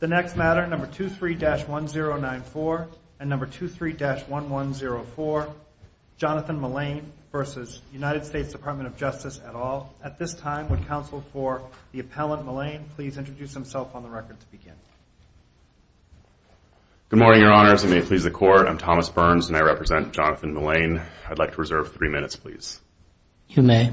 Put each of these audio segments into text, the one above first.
The next matter, number 23-1094 and number 23-1104, Jonathan Mullane v. United States Department of Justice et al. At this time, would counsel for the appellant Mullane please introduce himself on the record to begin. Good morning, your honors. I may please the court. I'm Thomas Burns and I represent Jonathan Mullane. I'd like to reserve three minutes, please. You may.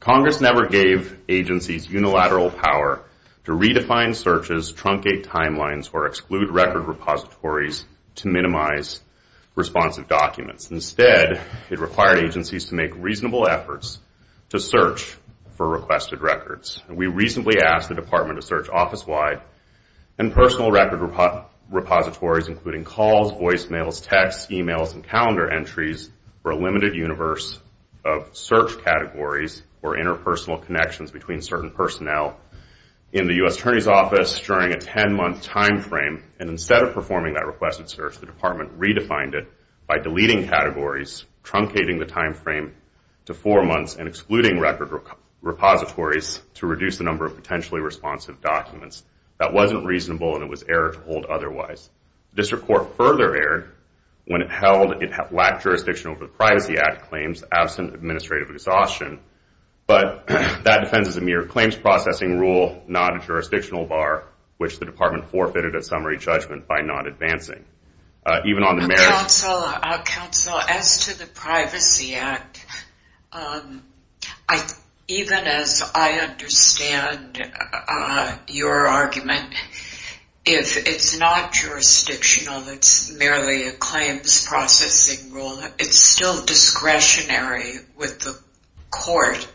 Congress never gave agencies unilateral power to redefine searches, truncate timelines, or exclude record repositories to minimize responsive documents. Instead, it required agencies to make reasonable efforts to search for requested records. We recently asked the Department to search office-wide and personal record repositories including calls, voicemails, texts, e-mails, and calendar entries for a limited universe of search categories or interpersonal connections between certain personnel in the U.S. Attorney's Office during a 10-month time frame. And instead of performing that requested search, the Department redefined it by deleting categories, truncating the time frame to four months, and excluding record repositories to reduce the number of potentially responsive documents. That wasn't reasonable and it was error to hold otherwise. The District Court further erred when it held it lacked jurisdiction over the Privacy Act claims absent administrative exhaustion. But that defends a mere claims processing rule, not a jurisdictional bar, which the Department forfeited at summary judgment by not advancing. Counsel, as to the Privacy Act, even as I understand your argument, if it's not jurisdictional, it's merely a claims processing rule, it's still discretionary with the court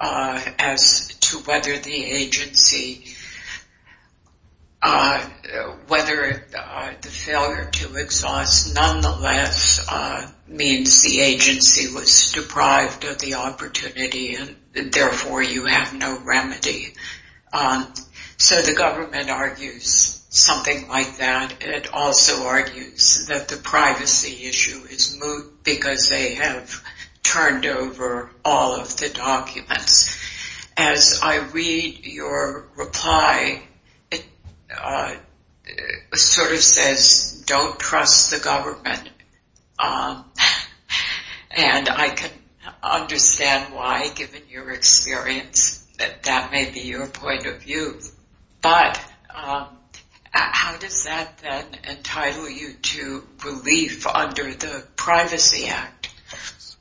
as to whether the agency, whether the failure to exhaust nonetheless means the agency was deprived of the opportunity and therefore you have no remedy. So the government argues something like that. It also argues that the privacy issue is moot because they have turned over all of the documents. As I read your reply, it sort of says, don't trust the government. And I can understand why, given your experience, that that may be your point of view. But how does that then entitle you to relief under the Privacy Act?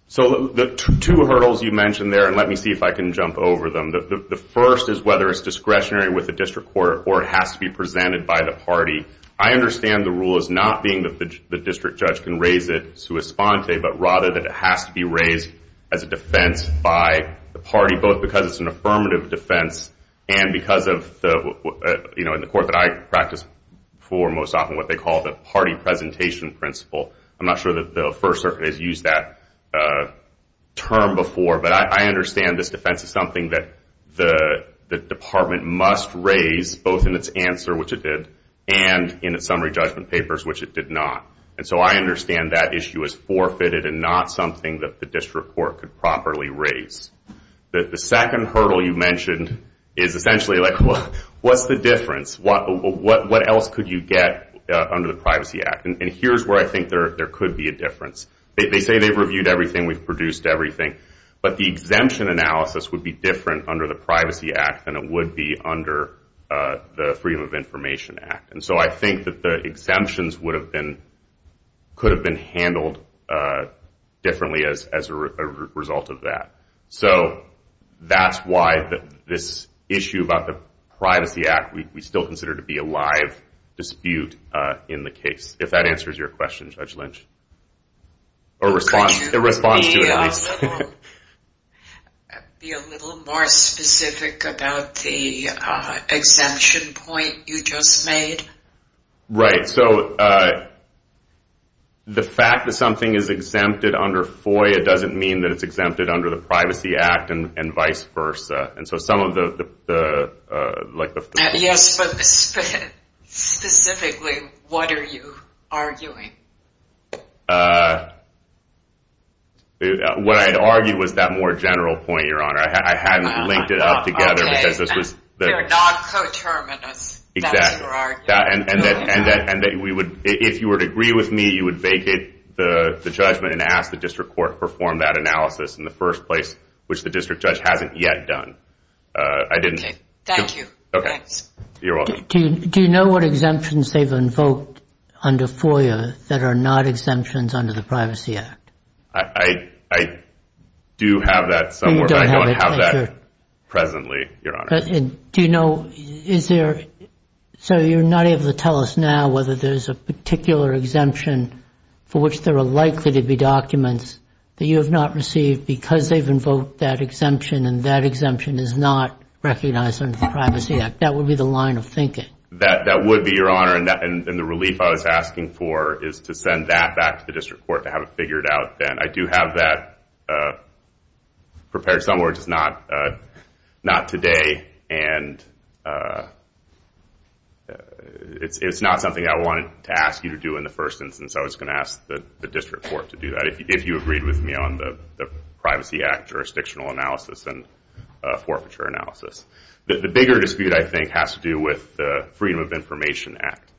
So the two hurdles you mentioned there, and let me see if I can jump over them. The first is whether it's discretionary with the District Court or it has to be presented by the party. I understand the rule as not being that the district judge can raise it sua sponte, but rather that it has to be raised as a defense by the party, both because it's an affirmative defense and because of, in the court that I practice for most often, what they call the party presentation principle. I'm not sure that the First Circuit has used that term before, but I understand this defense is something that the department must raise, both in its answer, which it did, and in its summary judgment papers, which it did not. And so I understand that issue as forfeited and not something that the District Court could properly raise. The second hurdle you mentioned is essentially like, what's the difference? What else could you get under the Privacy Act? And here's where I think there could be a difference. They say they've reviewed everything, we've produced everything, but the exemption analysis would be different under the Privacy Act than it would be under the Freedom of Information Act. And so I think that the exemptions could have been handled differently as a result of that. So that's why this issue about the Privacy Act, we still consider to be a live dispute in the case. If that answers your question, Judge Lynch. Could you be a little more specific about the exemption point you just made? Right, so the fact that something is exempted under FOIA doesn't mean that it's exempted under the Privacy Act and vice versa. Yes, but specifically, what are you arguing? What I'd argue was that more general point, Your Honor. I hadn't linked it up together. Okay, they're not coterminous, that's your argument. Exactly. And if you would agree with me, you would vacate the judgment and ask the District Court to perform that analysis in the first place, which the District Judge hasn't yet done. Okay, thank you. Okay, you're welcome. Do you know what exemptions they've invoked under FOIA that are not exemptions under the Privacy Act? I do have that somewhere, but I don't have that presently, Your Honor. Do you know, is there, so you're not able to tell us now whether there's a particular exemption for which there are likely to be documents that you have not received because they've invoked that exemption and that exemption is not recognized under the Privacy Act. That would be the line of thinking. That would be, Your Honor, and the relief I was asking for is to send that back to the District Court to have it figured out then. I do have that prepared somewhere, just not today, and it's not something I wanted to ask you to do in the first instance, so I was going to ask the District Court to do that if you agreed with me on the Privacy Act jurisdictional analysis and forfeiture analysis. The bigger dispute, I think, has to do with the Freedom of Information Act,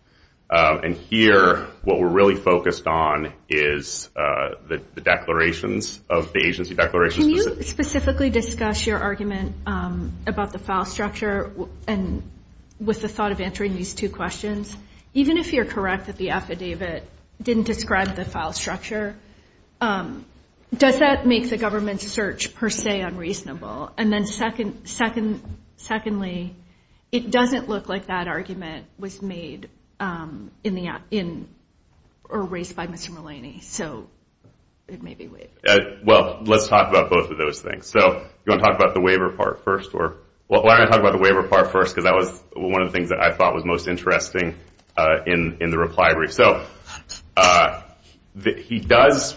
and here what we're really focused on is the declarations of the agency declarations. Can you specifically discuss your argument about the file structure and with the thought of answering these two questions? Even if you're correct that the affidavit didn't describe the file structure, does that make the government's search per se unreasonable? And then secondly, it doesn't look like that argument was made or raised by Mr. Mulaney, so it may be waived. Well, let's talk about both of those things. So do you want to talk about the waiver part first? Well, I'm going to talk about the waiver part first because that was one of the things that I thought was most interesting in the reply brief. So he does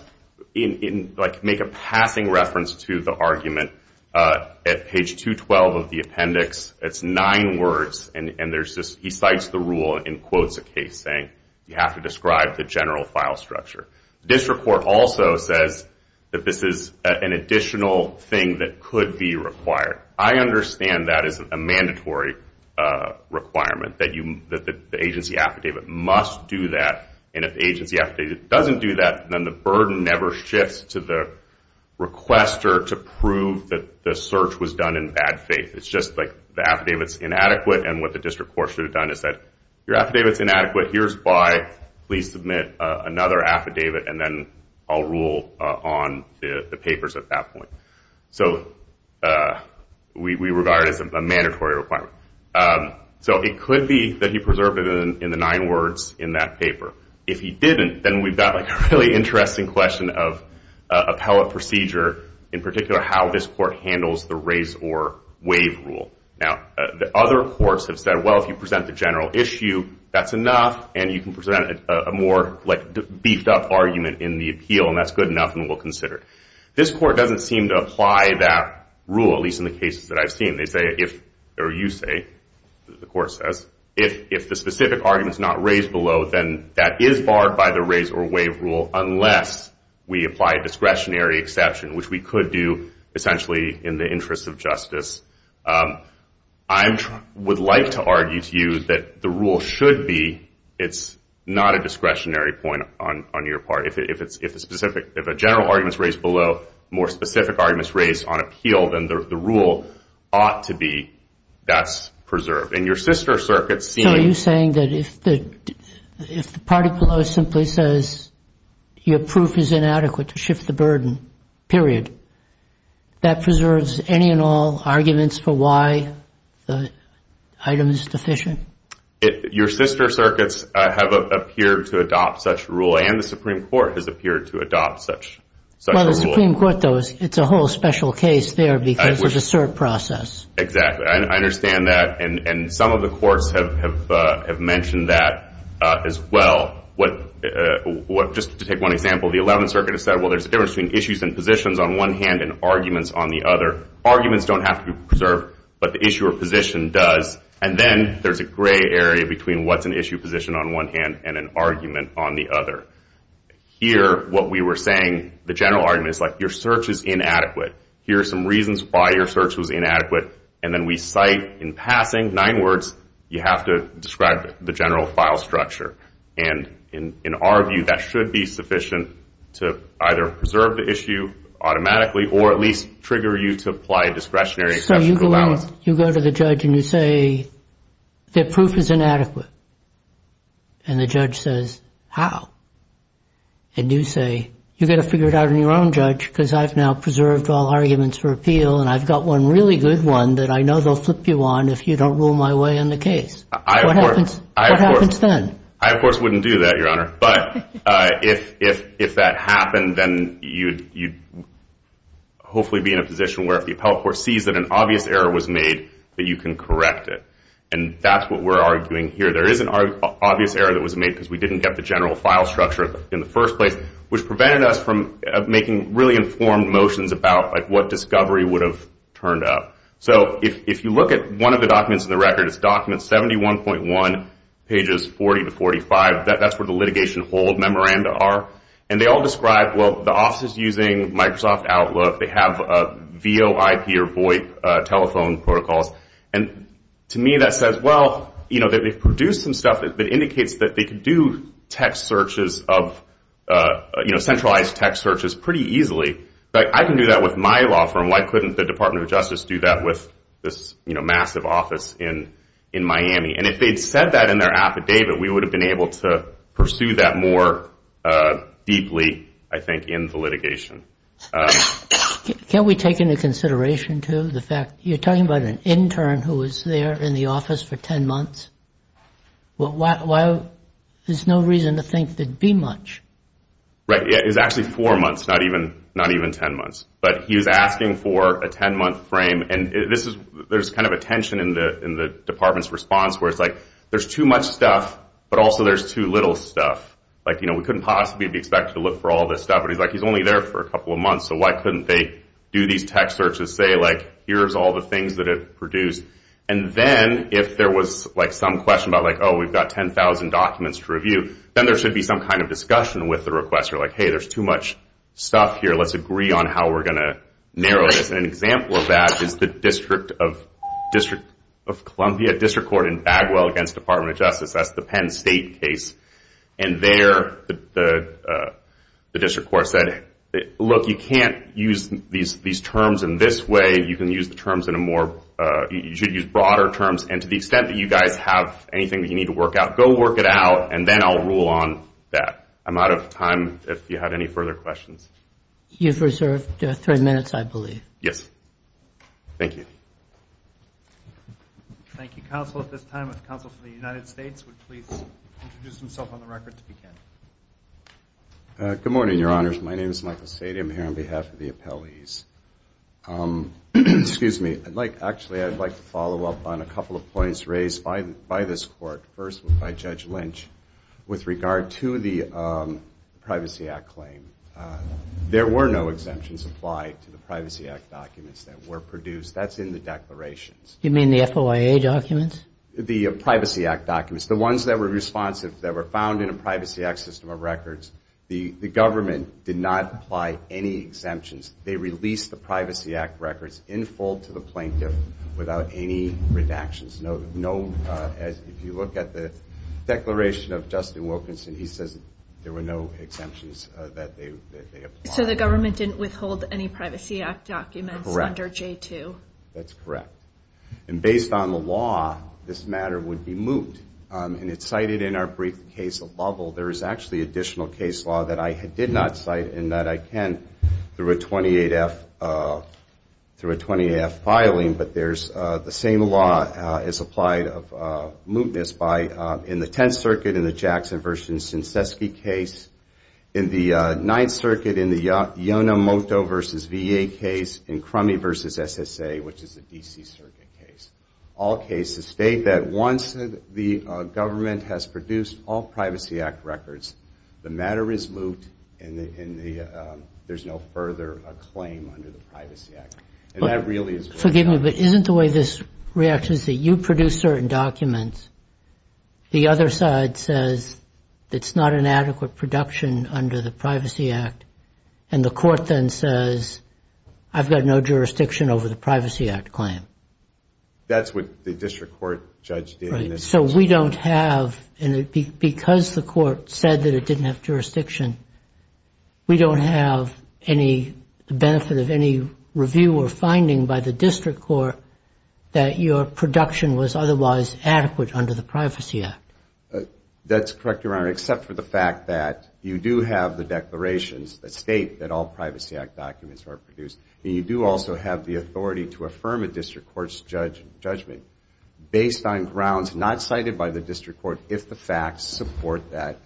make a passing reference to the argument at page 212 of the appendix. It's nine words, and he cites the rule and quotes a case saying you have to describe the general file structure. The District Court also says that this is an additional thing that could be required. I understand that is a mandatory requirement, that the agency affidavit must do that, and if the agency affidavit doesn't do that, then the burden never shifts to the requester to prove that the search was done in bad faith. It's just like the affidavit's inadequate, and what the District Court should have done is said, your affidavit's inadequate, here's why, please submit another affidavit, and then I'll rule on the papers at that point. So we regard it as a mandatory requirement. So it could be that he preserved it in the nine words in that paper. If he didn't, then we've got a really interesting question of appellate procedure, in particular how this court handles the raise or waive rule. Now, the other courts have said, well, if you present the general issue, that's enough, and you can present a more beefed up argument in the appeal, and that's good enough, and we'll consider it. This court doesn't seem to apply that rule, at least in the cases that I've seen. They say, or you say, the court says, if the specific argument's not raised below, then that is barred by the raise or waive rule unless we apply a discretionary exception, which we could do essentially in the interest of justice. I would like to argue to you that the rule should be it's not a discretionary point on your part. If a general argument's raised below, more specific arguments raised on appeal, then the rule ought to be that's preserved. So are you saying that if the party below simply says your proof is inadequate to shift the burden, period, that preserves any and all arguments for why the item is deficient? Your sister circuits have appeared to adopt such rule, and the Supreme Court has appeared to adopt such a rule. Well, the Supreme Court does. It's a whole special case there because of the cert process. Exactly. I understand that, and some of the courts have mentioned that as well. Just to take one example, the Eleventh Circuit has said, well, there's a difference between issues and positions on one hand and arguments on the other. Arguments don't have to be preserved, but the issue or position does, and then there's a gray area between what's an issue position on one hand and an argument on the other. Here, what we were saying, the general argument is like your search is inadequate. Here are some reasons why your search was inadequate, and then we cite in passing nine words, you have to describe the general file structure. And in our view, that should be sufficient to either preserve the issue automatically or at least trigger you to apply discretionary exceptional allowance. So you go to the judge and you say that proof is inadequate, and the judge says, how? And you say, you've got to figure it out on your own, judge, because I've now preserved all arguments for appeal, and I've got one really good one that I know they'll flip you on if you don't rule my way in the case. What happens then? I, of course, wouldn't do that, Your Honor, but if that happened, then you'd hopefully be in a position where if the appellate court sees that an obvious error was made, that you can correct it. And that's what we're arguing here. There is an obvious error that was made because we didn't get the general file structure in the first place, which prevented us from making really informed motions about what discovery would have turned up. So if you look at one of the documents in the record, it's document 71.1, pages 40 to 45. That's where the litigation hold memoranda are. And they all describe, well, the office is using Microsoft Outlook. They have VOIP or VOIP telephone protocols. And to me that says, well, you know, they've produced some stuff that indicates that they can do text searches of, you know, centralized text searches pretty easily. I can do that with my law firm. Why couldn't the Department of Justice do that with this, you know, massive office in Miami? And if they'd said that in their affidavit, we would have been able to pursue that more deeply, I think, in the litigation. Can't we take into consideration, too, the fact you're talking about an intern who was there in the office for 10 months? There's no reason to think there'd be much. Right. It was actually four months, not even 10 months. But he was asking for a 10-month frame, and there's kind of a tension in the department's response where it's like, there's too much stuff, but also there's too little stuff. Like, you know, we couldn't possibly be expected to look for all this stuff. But he's like, he's only there for a couple of months, so why couldn't they do these text searches, say, like, here's all the things that it produced? And then if there was, like, some question about, like, oh, we've got 10,000 documents to review, then there should be some kind of discussion with the requester, like, hey, there's too much stuff here. Let's agree on how we're going to narrow this. And an example of that is the District of Columbia District Court in Bagwell against Department of Justice. That's the Penn State case. And there the district court said, look, you can't use these terms in this way. You can use the terms in a more – you should use broader terms. And to the extent that you guys have anything that you need to work out, go work it out, and then I'll rule on that. I'm out of time if you have any further questions. You've reserved three minutes, I believe. Yes. Thank you. Thank you, Counsel. At this time, if the Counsel for the United States would please introduce himself on the record to begin. Good morning, Your Honors. My name is Michael Sadie. I'm here on behalf of the appellees. Excuse me. Actually, I'd like to follow up on a couple of points raised by this court, first by Judge Lynch, with regard to the Privacy Act claim. There were no exemptions applied to the Privacy Act documents that were produced. That's in the declarations. You mean the FOIA documents? The Privacy Act documents. The ones that were responsive that were found in a Privacy Act system of records. The government did not apply any exemptions. They released the Privacy Act records in full to the plaintiff without any redactions. If you look at the declaration of Justin Wilkinson, he says there were no exemptions that they applied. So the government didn't withhold any Privacy Act documents under J2? Correct. That's correct. And based on the law, this matter would be moved. And it's cited in our brief case of Lovell. There is actually additional case law that I did not cite and that I can, through a 28-F, through a 28-F filing, but there's the same law is applied of mootness by, in the Tenth Circuit, in the Jackson v. Senseski case, in the Ninth Circuit, in the Yonemoto v. V.A. case, in Crummey v. S.S.A., which is a D.C. Circuit case. All cases state that once the government has produced all Privacy Act records, the matter is moot and there's no further claim under the Privacy Act. And that really is what's happened. Forgive me, but isn't the way this reacts is that you produce certain documents, the other side says it's not an adequate production under the Privacy Act, and the court then says, I've got no jurisdiction over the Privacy Act claim? That's what the district court judge did. So we don't have, because the court said that it didn't have jurisdiction, we don't have any benefit of any review or finding by the district court that your production was otherwise adequate under the Privacy Act? That's correct, Your Honor, except for the fact that you do have the declarations that state that all Privacy Act documents are produced and you do also have the authority to affirm a district court's judgment based on grounds not cited by the district court if the facts support that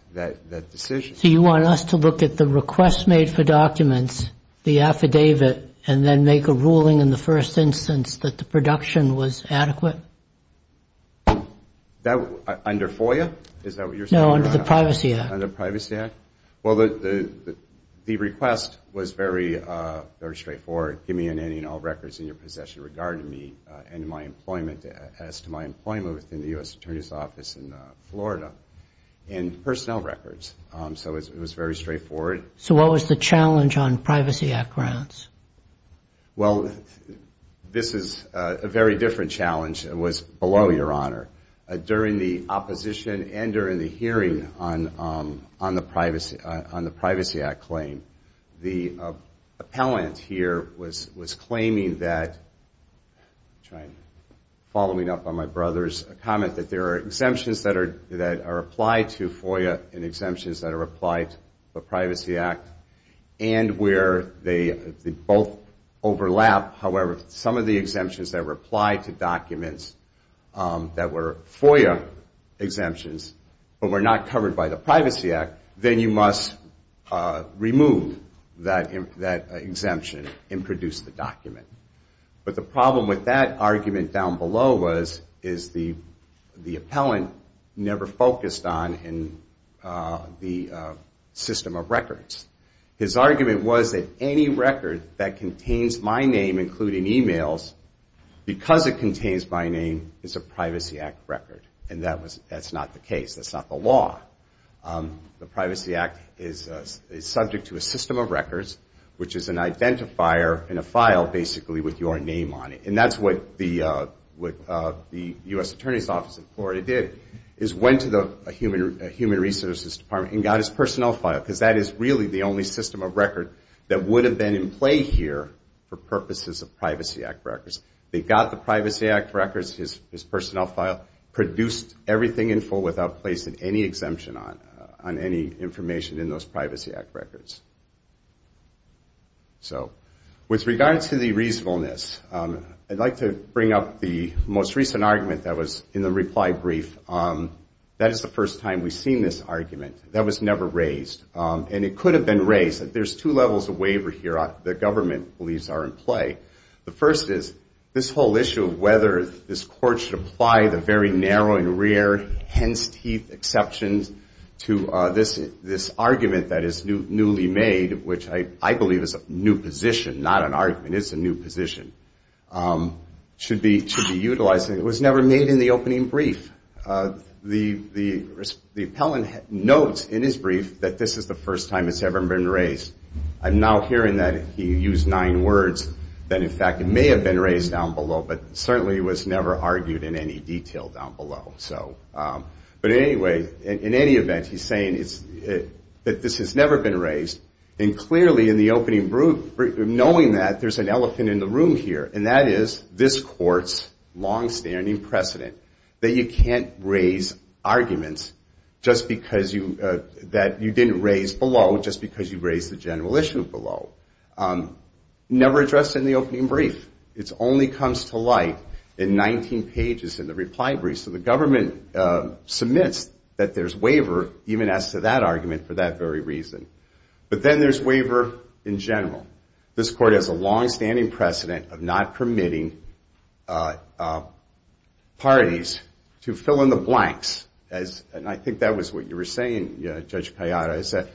decision. So you want us to look at the request made for documents, the affidavit, and then make a ruling in the first instance that the production was adequate? Under FOIA? Is that what you're saying, Your Honor? No, under the Privacy Act. Under the Privacy Act? Well, the request was very straightforward. Give me an end in all records in your possession regarding me and my employment as to my employment within the U.S. Attorney's Office in Florida and personnel records. So it was very straightforward. So what was the challenge on Privacy Act grounds? Well, this is a very different challenge. It was below, Your Honor. During the opposition and during the hearing on the Privacy Act claim, the appellant here was claiming that, following up on my brother's comment, that there are exemptions that are applied to FOIA and exemptions that are applied to the Privacy Act and where they both overlap. However, some of the exemptions that were applied to documents that were FOIA exemptions but were not covered by the Privacy Act, then you must remove that exemption and produce the document. But the problem with that argument down below was the appellant never focused on the system of records. His argument was that any record that contains my name, including e-mails, because it contains my name, is a Privacy Act record. And that's not the case. That's not the law. The Privacy Act is subject to a system of records, which is an identifier in a file, basically, with your name on it. And that's what the U.S. Attorney's Office in Florida did, is went to the Human Resources Department and got his personnel file, because that is really the only system of record that would have been in play here for purposes of Privacy Act records. They got the Privacy Act records, his personnel file, produced everything in full without placing any exemption on any information in those Privacy Act records. So with regard to the reasonableness, I'd like to bring up the most recent argument that was in the reply brief. That is the first time we've seen this argument. That was never raised. And it could have been raised. There's two levels of waiver here the government believes are in play. The first is this whole issue of whether this court should apply the very narrow and rare hen's teeth exceptions to this argument that is newly made, which I believe is a new position, not an argument, it's a new position, should be utilized. It was never made in the opening brief. The appellant notes in his brief that this is the first time it's ever been raised. I'm now hearing that he used nine words, that in fact it may have been raised down below, but certainly it was never argued in any detail down below. But anyway, in any event, he's saying that this has never been raised, and clearly in the opening brief, knowing that there's an elephant in the room here, and that is this court's longstanding precedent that you can't raise arguments that you didn't raise below just because you raised the general issue below. Never addressed in the opening brief. It only comes to light in 19 pages in the reply brief. So the government submits that there's waiver, even as to that argument, for that very reason. But then there's waiver in general. This court has a longstanding precedent of not permitting parties to fill in the blanks, and I think that was what you were saying, Judge Callada, is that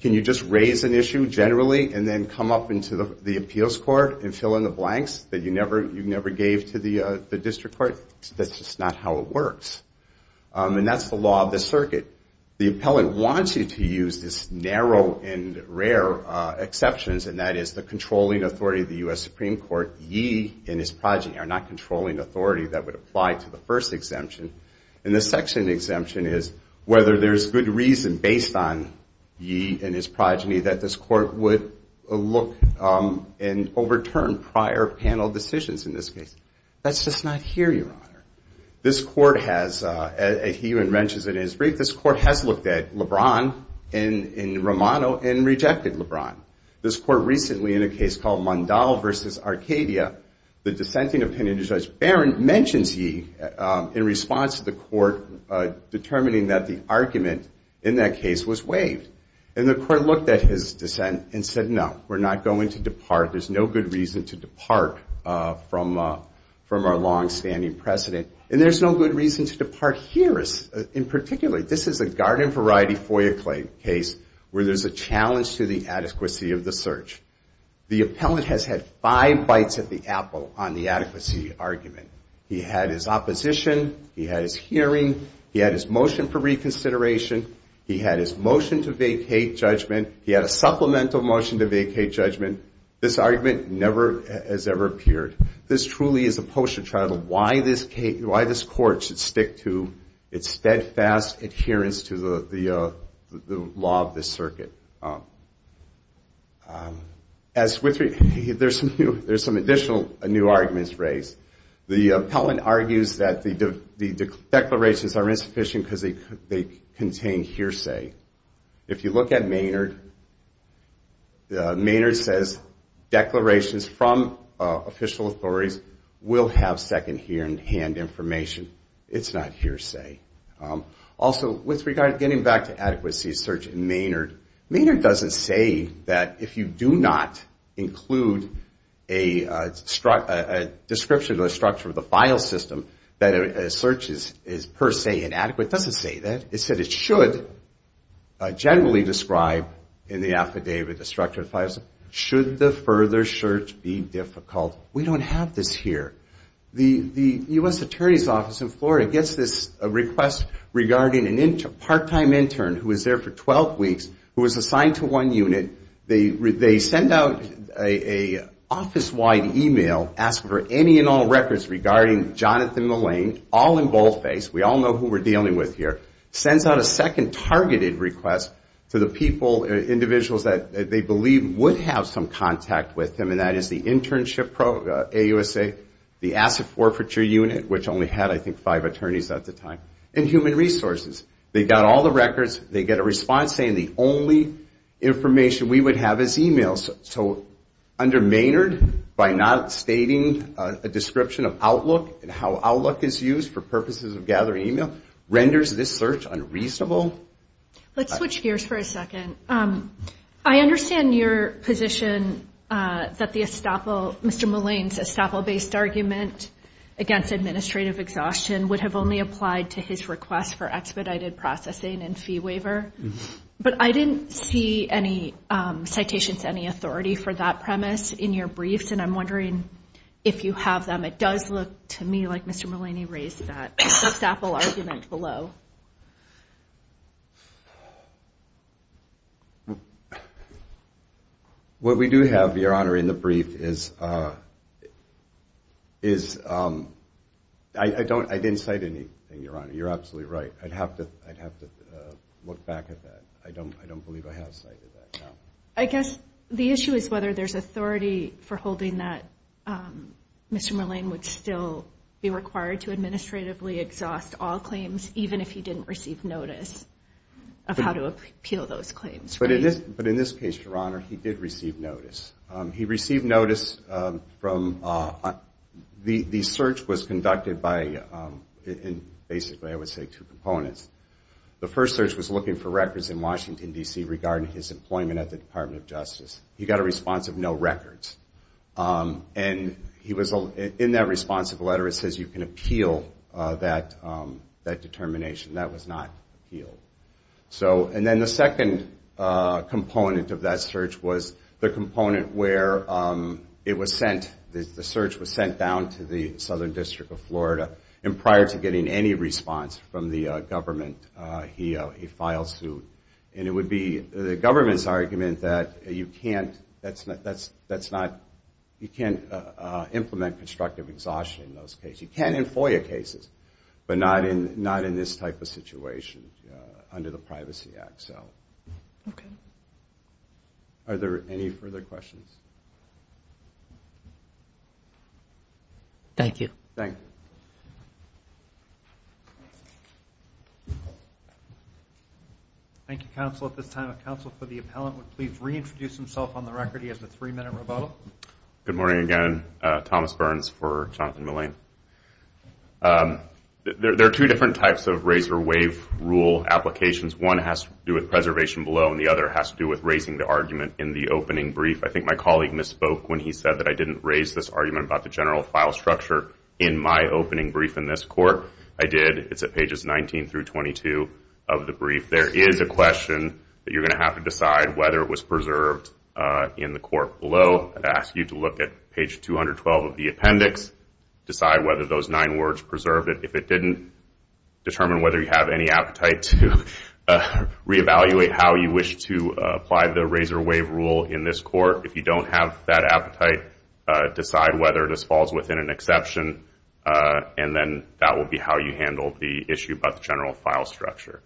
can you just raise an issue generally and then come up into the appeals court and fill in the blanks that you never gave to the district court? That's just not how it works. And that's the law of the circuit. The appellant wants you to use this narrow and rare exceptions, and that is the controlling authority of the U.S. Supreme Court, ye and his progeny, or not controlling authority that would apply to the first exemption. And the section exemption is whether there's good reason based on ye and his progeny that this court would look and overturn prior panel decisions in this case. That's just not here, Your Honor. This court has, and he even wrenches it in his brief, this court has looked at LeBron in Romano and rejected LeBron. This court recently, in a case called Mondal v. Arcadia, the dissenting opinion of Judge Barron mentions ye in response to the court determining that the argument in that case was waived. And the court looked at his dissent and said, No, we're not going to depart. There's no good reason to depart from our longstanding precedent. And there's no good reason to depart here in particular. This is a garden-variety FOIA claim case where there's a challenge to the adequacy of the search. The appellant has had five bites at the apple on the adequacy argument. He had his opposition, he had his hearing, he had his motion for reconsideration, he had his motion to vacate judgment, he had a supplemental motion to vacate judgment. This argument never has ever appeared. This truly is a poster child of why this court should stick to its steadfast adherence to the law of this circuit. As with, there's some additional new arguments raised. The appellant argues that the declarations are insufficient because they contain hearsay. If you look at Maynard, Maynard says declarations from official authorities will have second-hand information. It's not hearsay. Also, with regard to getting back to adequacy of search in Maynard, Maynard doesn't say that if you do not include a description of the structure of the file system, that a search is per se inadequate. It doesn't say that. It said it should generally describe in the affidavit the structure of the files. Should the further search be difficult? We don't have this here. The U.S. Attorney's Office in Florida gets this request regarding a part-time intern who was there for 12 weeks who was assigned to one unit. They send out an office-wide e-mail asking for any and all records regarding Jonathan Mullane, all in boldface. We all know who we're dealing with here. Sends out a second targeted request to the people, individuals, that they believe would have some contact with him, and that is the internship program, AUSA, the asset forfeiture unit, which only had, I think, five attorneys at the time, and human resources. They got all the records. They get a response saying the only information we would have is e-mails. So under Maynard, by not stating a description of Outlook and how Outlook is used for purposes of gathering e-mail, renders this search unreasonable. Let's switch gears for a second. I understand your position that the estoppel, Mr. Mullane's estoppel-based argument against administrative exhaustion would have only applied to his request for expedited processing and fee waiver, but I didn't see any citations, any authority for that premise in your briefs, and I'm wondering if you have them. It does look to me like Mr. Mullane raised that estoppel argument below. What we do have, Your Honor, in the brief is, I didn't cite anything, Your Honor. You're absolutely right. I'd have to look back at that. I don't believe I have cited that. I guess the issue is whether there's authority for holding that Mr. Mullane would still be required to administratively exhaust all claims, even if he didn't receive notice of how to appeal those claims. But in this case, Your Honor, he did receive notice. He received notice from, the search was conducted by, basically I would say two components. The first search was looking for records in Washington, D.C. regarding his employment at the Department of Justice. He got a response of no records. And in that response of a letter it says you can appeal that determination. That was not appealed. And then the second component of that search was the component where it was sent. The search was sent down to the Southern District of Florida. And prior to getting any response from the government, he filed suit. And it would be the government's argument that you can't implement constructive exhaustion in those cases. But not in this type of situation under the Privacy Act. Are there any further questions? Thank you. Thank you, counsel. At this time, if counsel for the appellant would please reintroduce himself on the record. He has a three-minute rebuttal. Good morning again. Thomas Burns for Jonathan Mullane. There are two different types of razor wave rule applications. One has to do with preservation below and the other has to do with raising the argument in the opening brief. I think my colleague misspoke when he said that I didn't raise this argument about the general file structure in my opening brief in this court. I did. It's at pages 19 through 22 of the brief. There is a question that you're going to have to decide whether it was preserved in the court below. I'd ask you to look at page 212 of the appendix, decide whether those nine words preserved it. If it didn't, determine whether you have any appetite to reevaluate how you wish to apply the razor wave rule in this court. If you don't have that appetite, decide whether this falls within an exception, and then that will be how you handle the issue about the general file structure.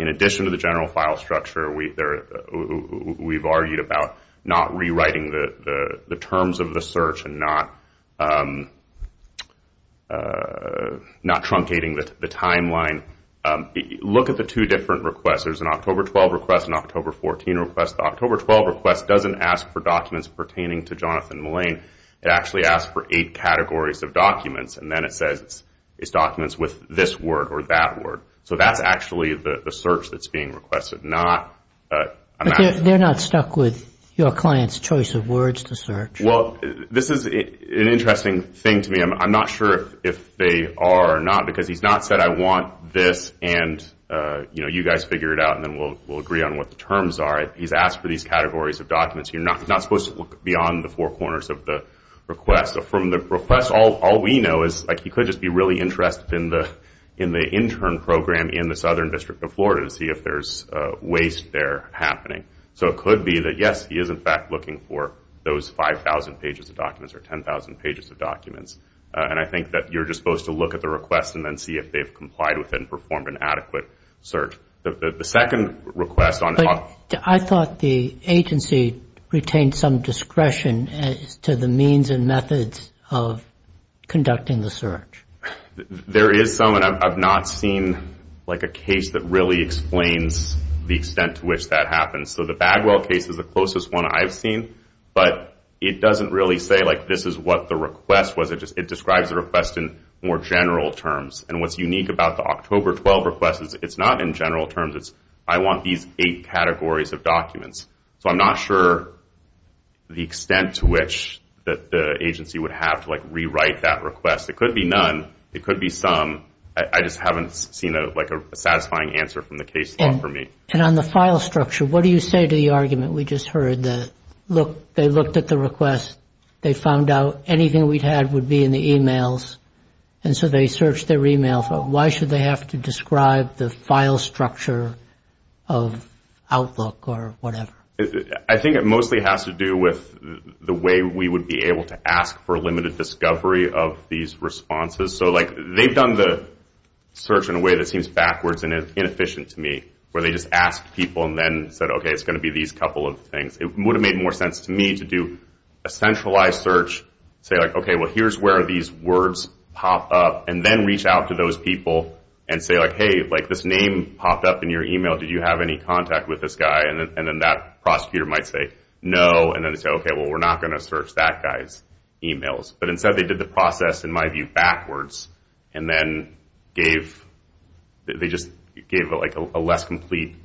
In addition to the general file structure, we've argued about not rewriting the terms of the search and not truncating the timeline. Look at the two different requests. There's an October 12 request and an October 14 request. The October 12 request doesn't ask for documents pertaining to Jonathan Mullane. It actually asks for eight categories of documents and then it says it's documents with this word or that word. So that's actually the search that's being requested. They're not stuck with your client's choice of words to search? Well, this is an interesting thing to me. I'm not sure if they are or not because he's not said, I want this and you guys figure it out and then we'll agree on what the terms are. He's asked for these categories of documents. You're not supposed to look beyond the four corners of the request. From the request, all we know is he could just be really interested in the intern program in the Southern District of Florida to see if there's waste there happening. So it could be that, yes, he is in fact looking for those 5,000 pages of documents or 10,000 pages of documents. And I think that you're just supposed to look at the request and then see if they've complied with it and performed an adequate search. The second request on top... I thought the agency retained some discretion as to the means and methods of conducting the search. There is some, and I've not seen a case that really explains the extent to which that happens. So the Bagwell case is the closest one I've seen, but it doesn't really say this is what the request was. It describes the request in more general terms. And what's unique about the October 12 request is it's not in general terms. It's I want these eight categories of documents. So I'm not sure the extent to which the agency would have to rewrite that request. It could be none. It could be some. I just haven't seen a satisfying answer from the case law for me. And on the file structure, what do you say to the argument we just heard? They looked at the request. They found out anything we'd had would be in the emails. And so they searched their emails. Why should they have to describe the file structure of Outlook or whatever? I think it mostly has to do with the way we would be able to ask for limited discovery of these responses. So, like, they've done the search in a way that seems backwards and inefficient to me, where they just asked people and then said, okay, it's going to be these couple of things. It would have made more sense to me to do a centralized search, say, like, okay, well, here's where these words pop up, and then reach out to those people and say, like, hey, like, this name popped up in your email. Did you have any contact with this guy? And then that prosecutor might say no. And then they say, okay, well, we're not going to search that guy's emails. But instead they did the process, in my view, backwards, and then they just gave, like, a less complete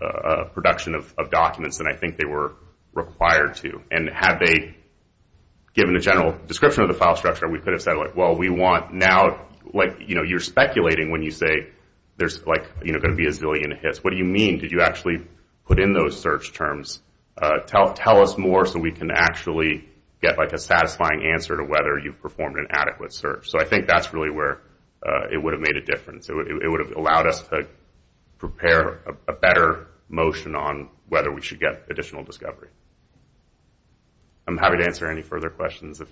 production of documents than I think they were required to. And had they given a general description of the file structure, we could have said, like, well, we want now, like, you know, you're speculating when you say there's, like, you know, going to be a zillion hits. What do you mean? Did you actually put in those search terms? Tell us more so we can actually get, like, a satisfying answer to whether you've performed an adequate search. So I think that's really where it would have made a difference. It would have allowed us to prepare a better motion on whether we should get additional discovery. I'm happy to answer any further questions. If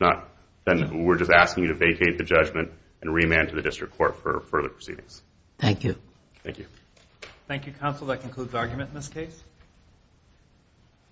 not, then we're just asking you to vacate the judgment and remand to the district court for further proceedings. Thank you. Thank you. Thank you, counsel. That concludes argument in this case.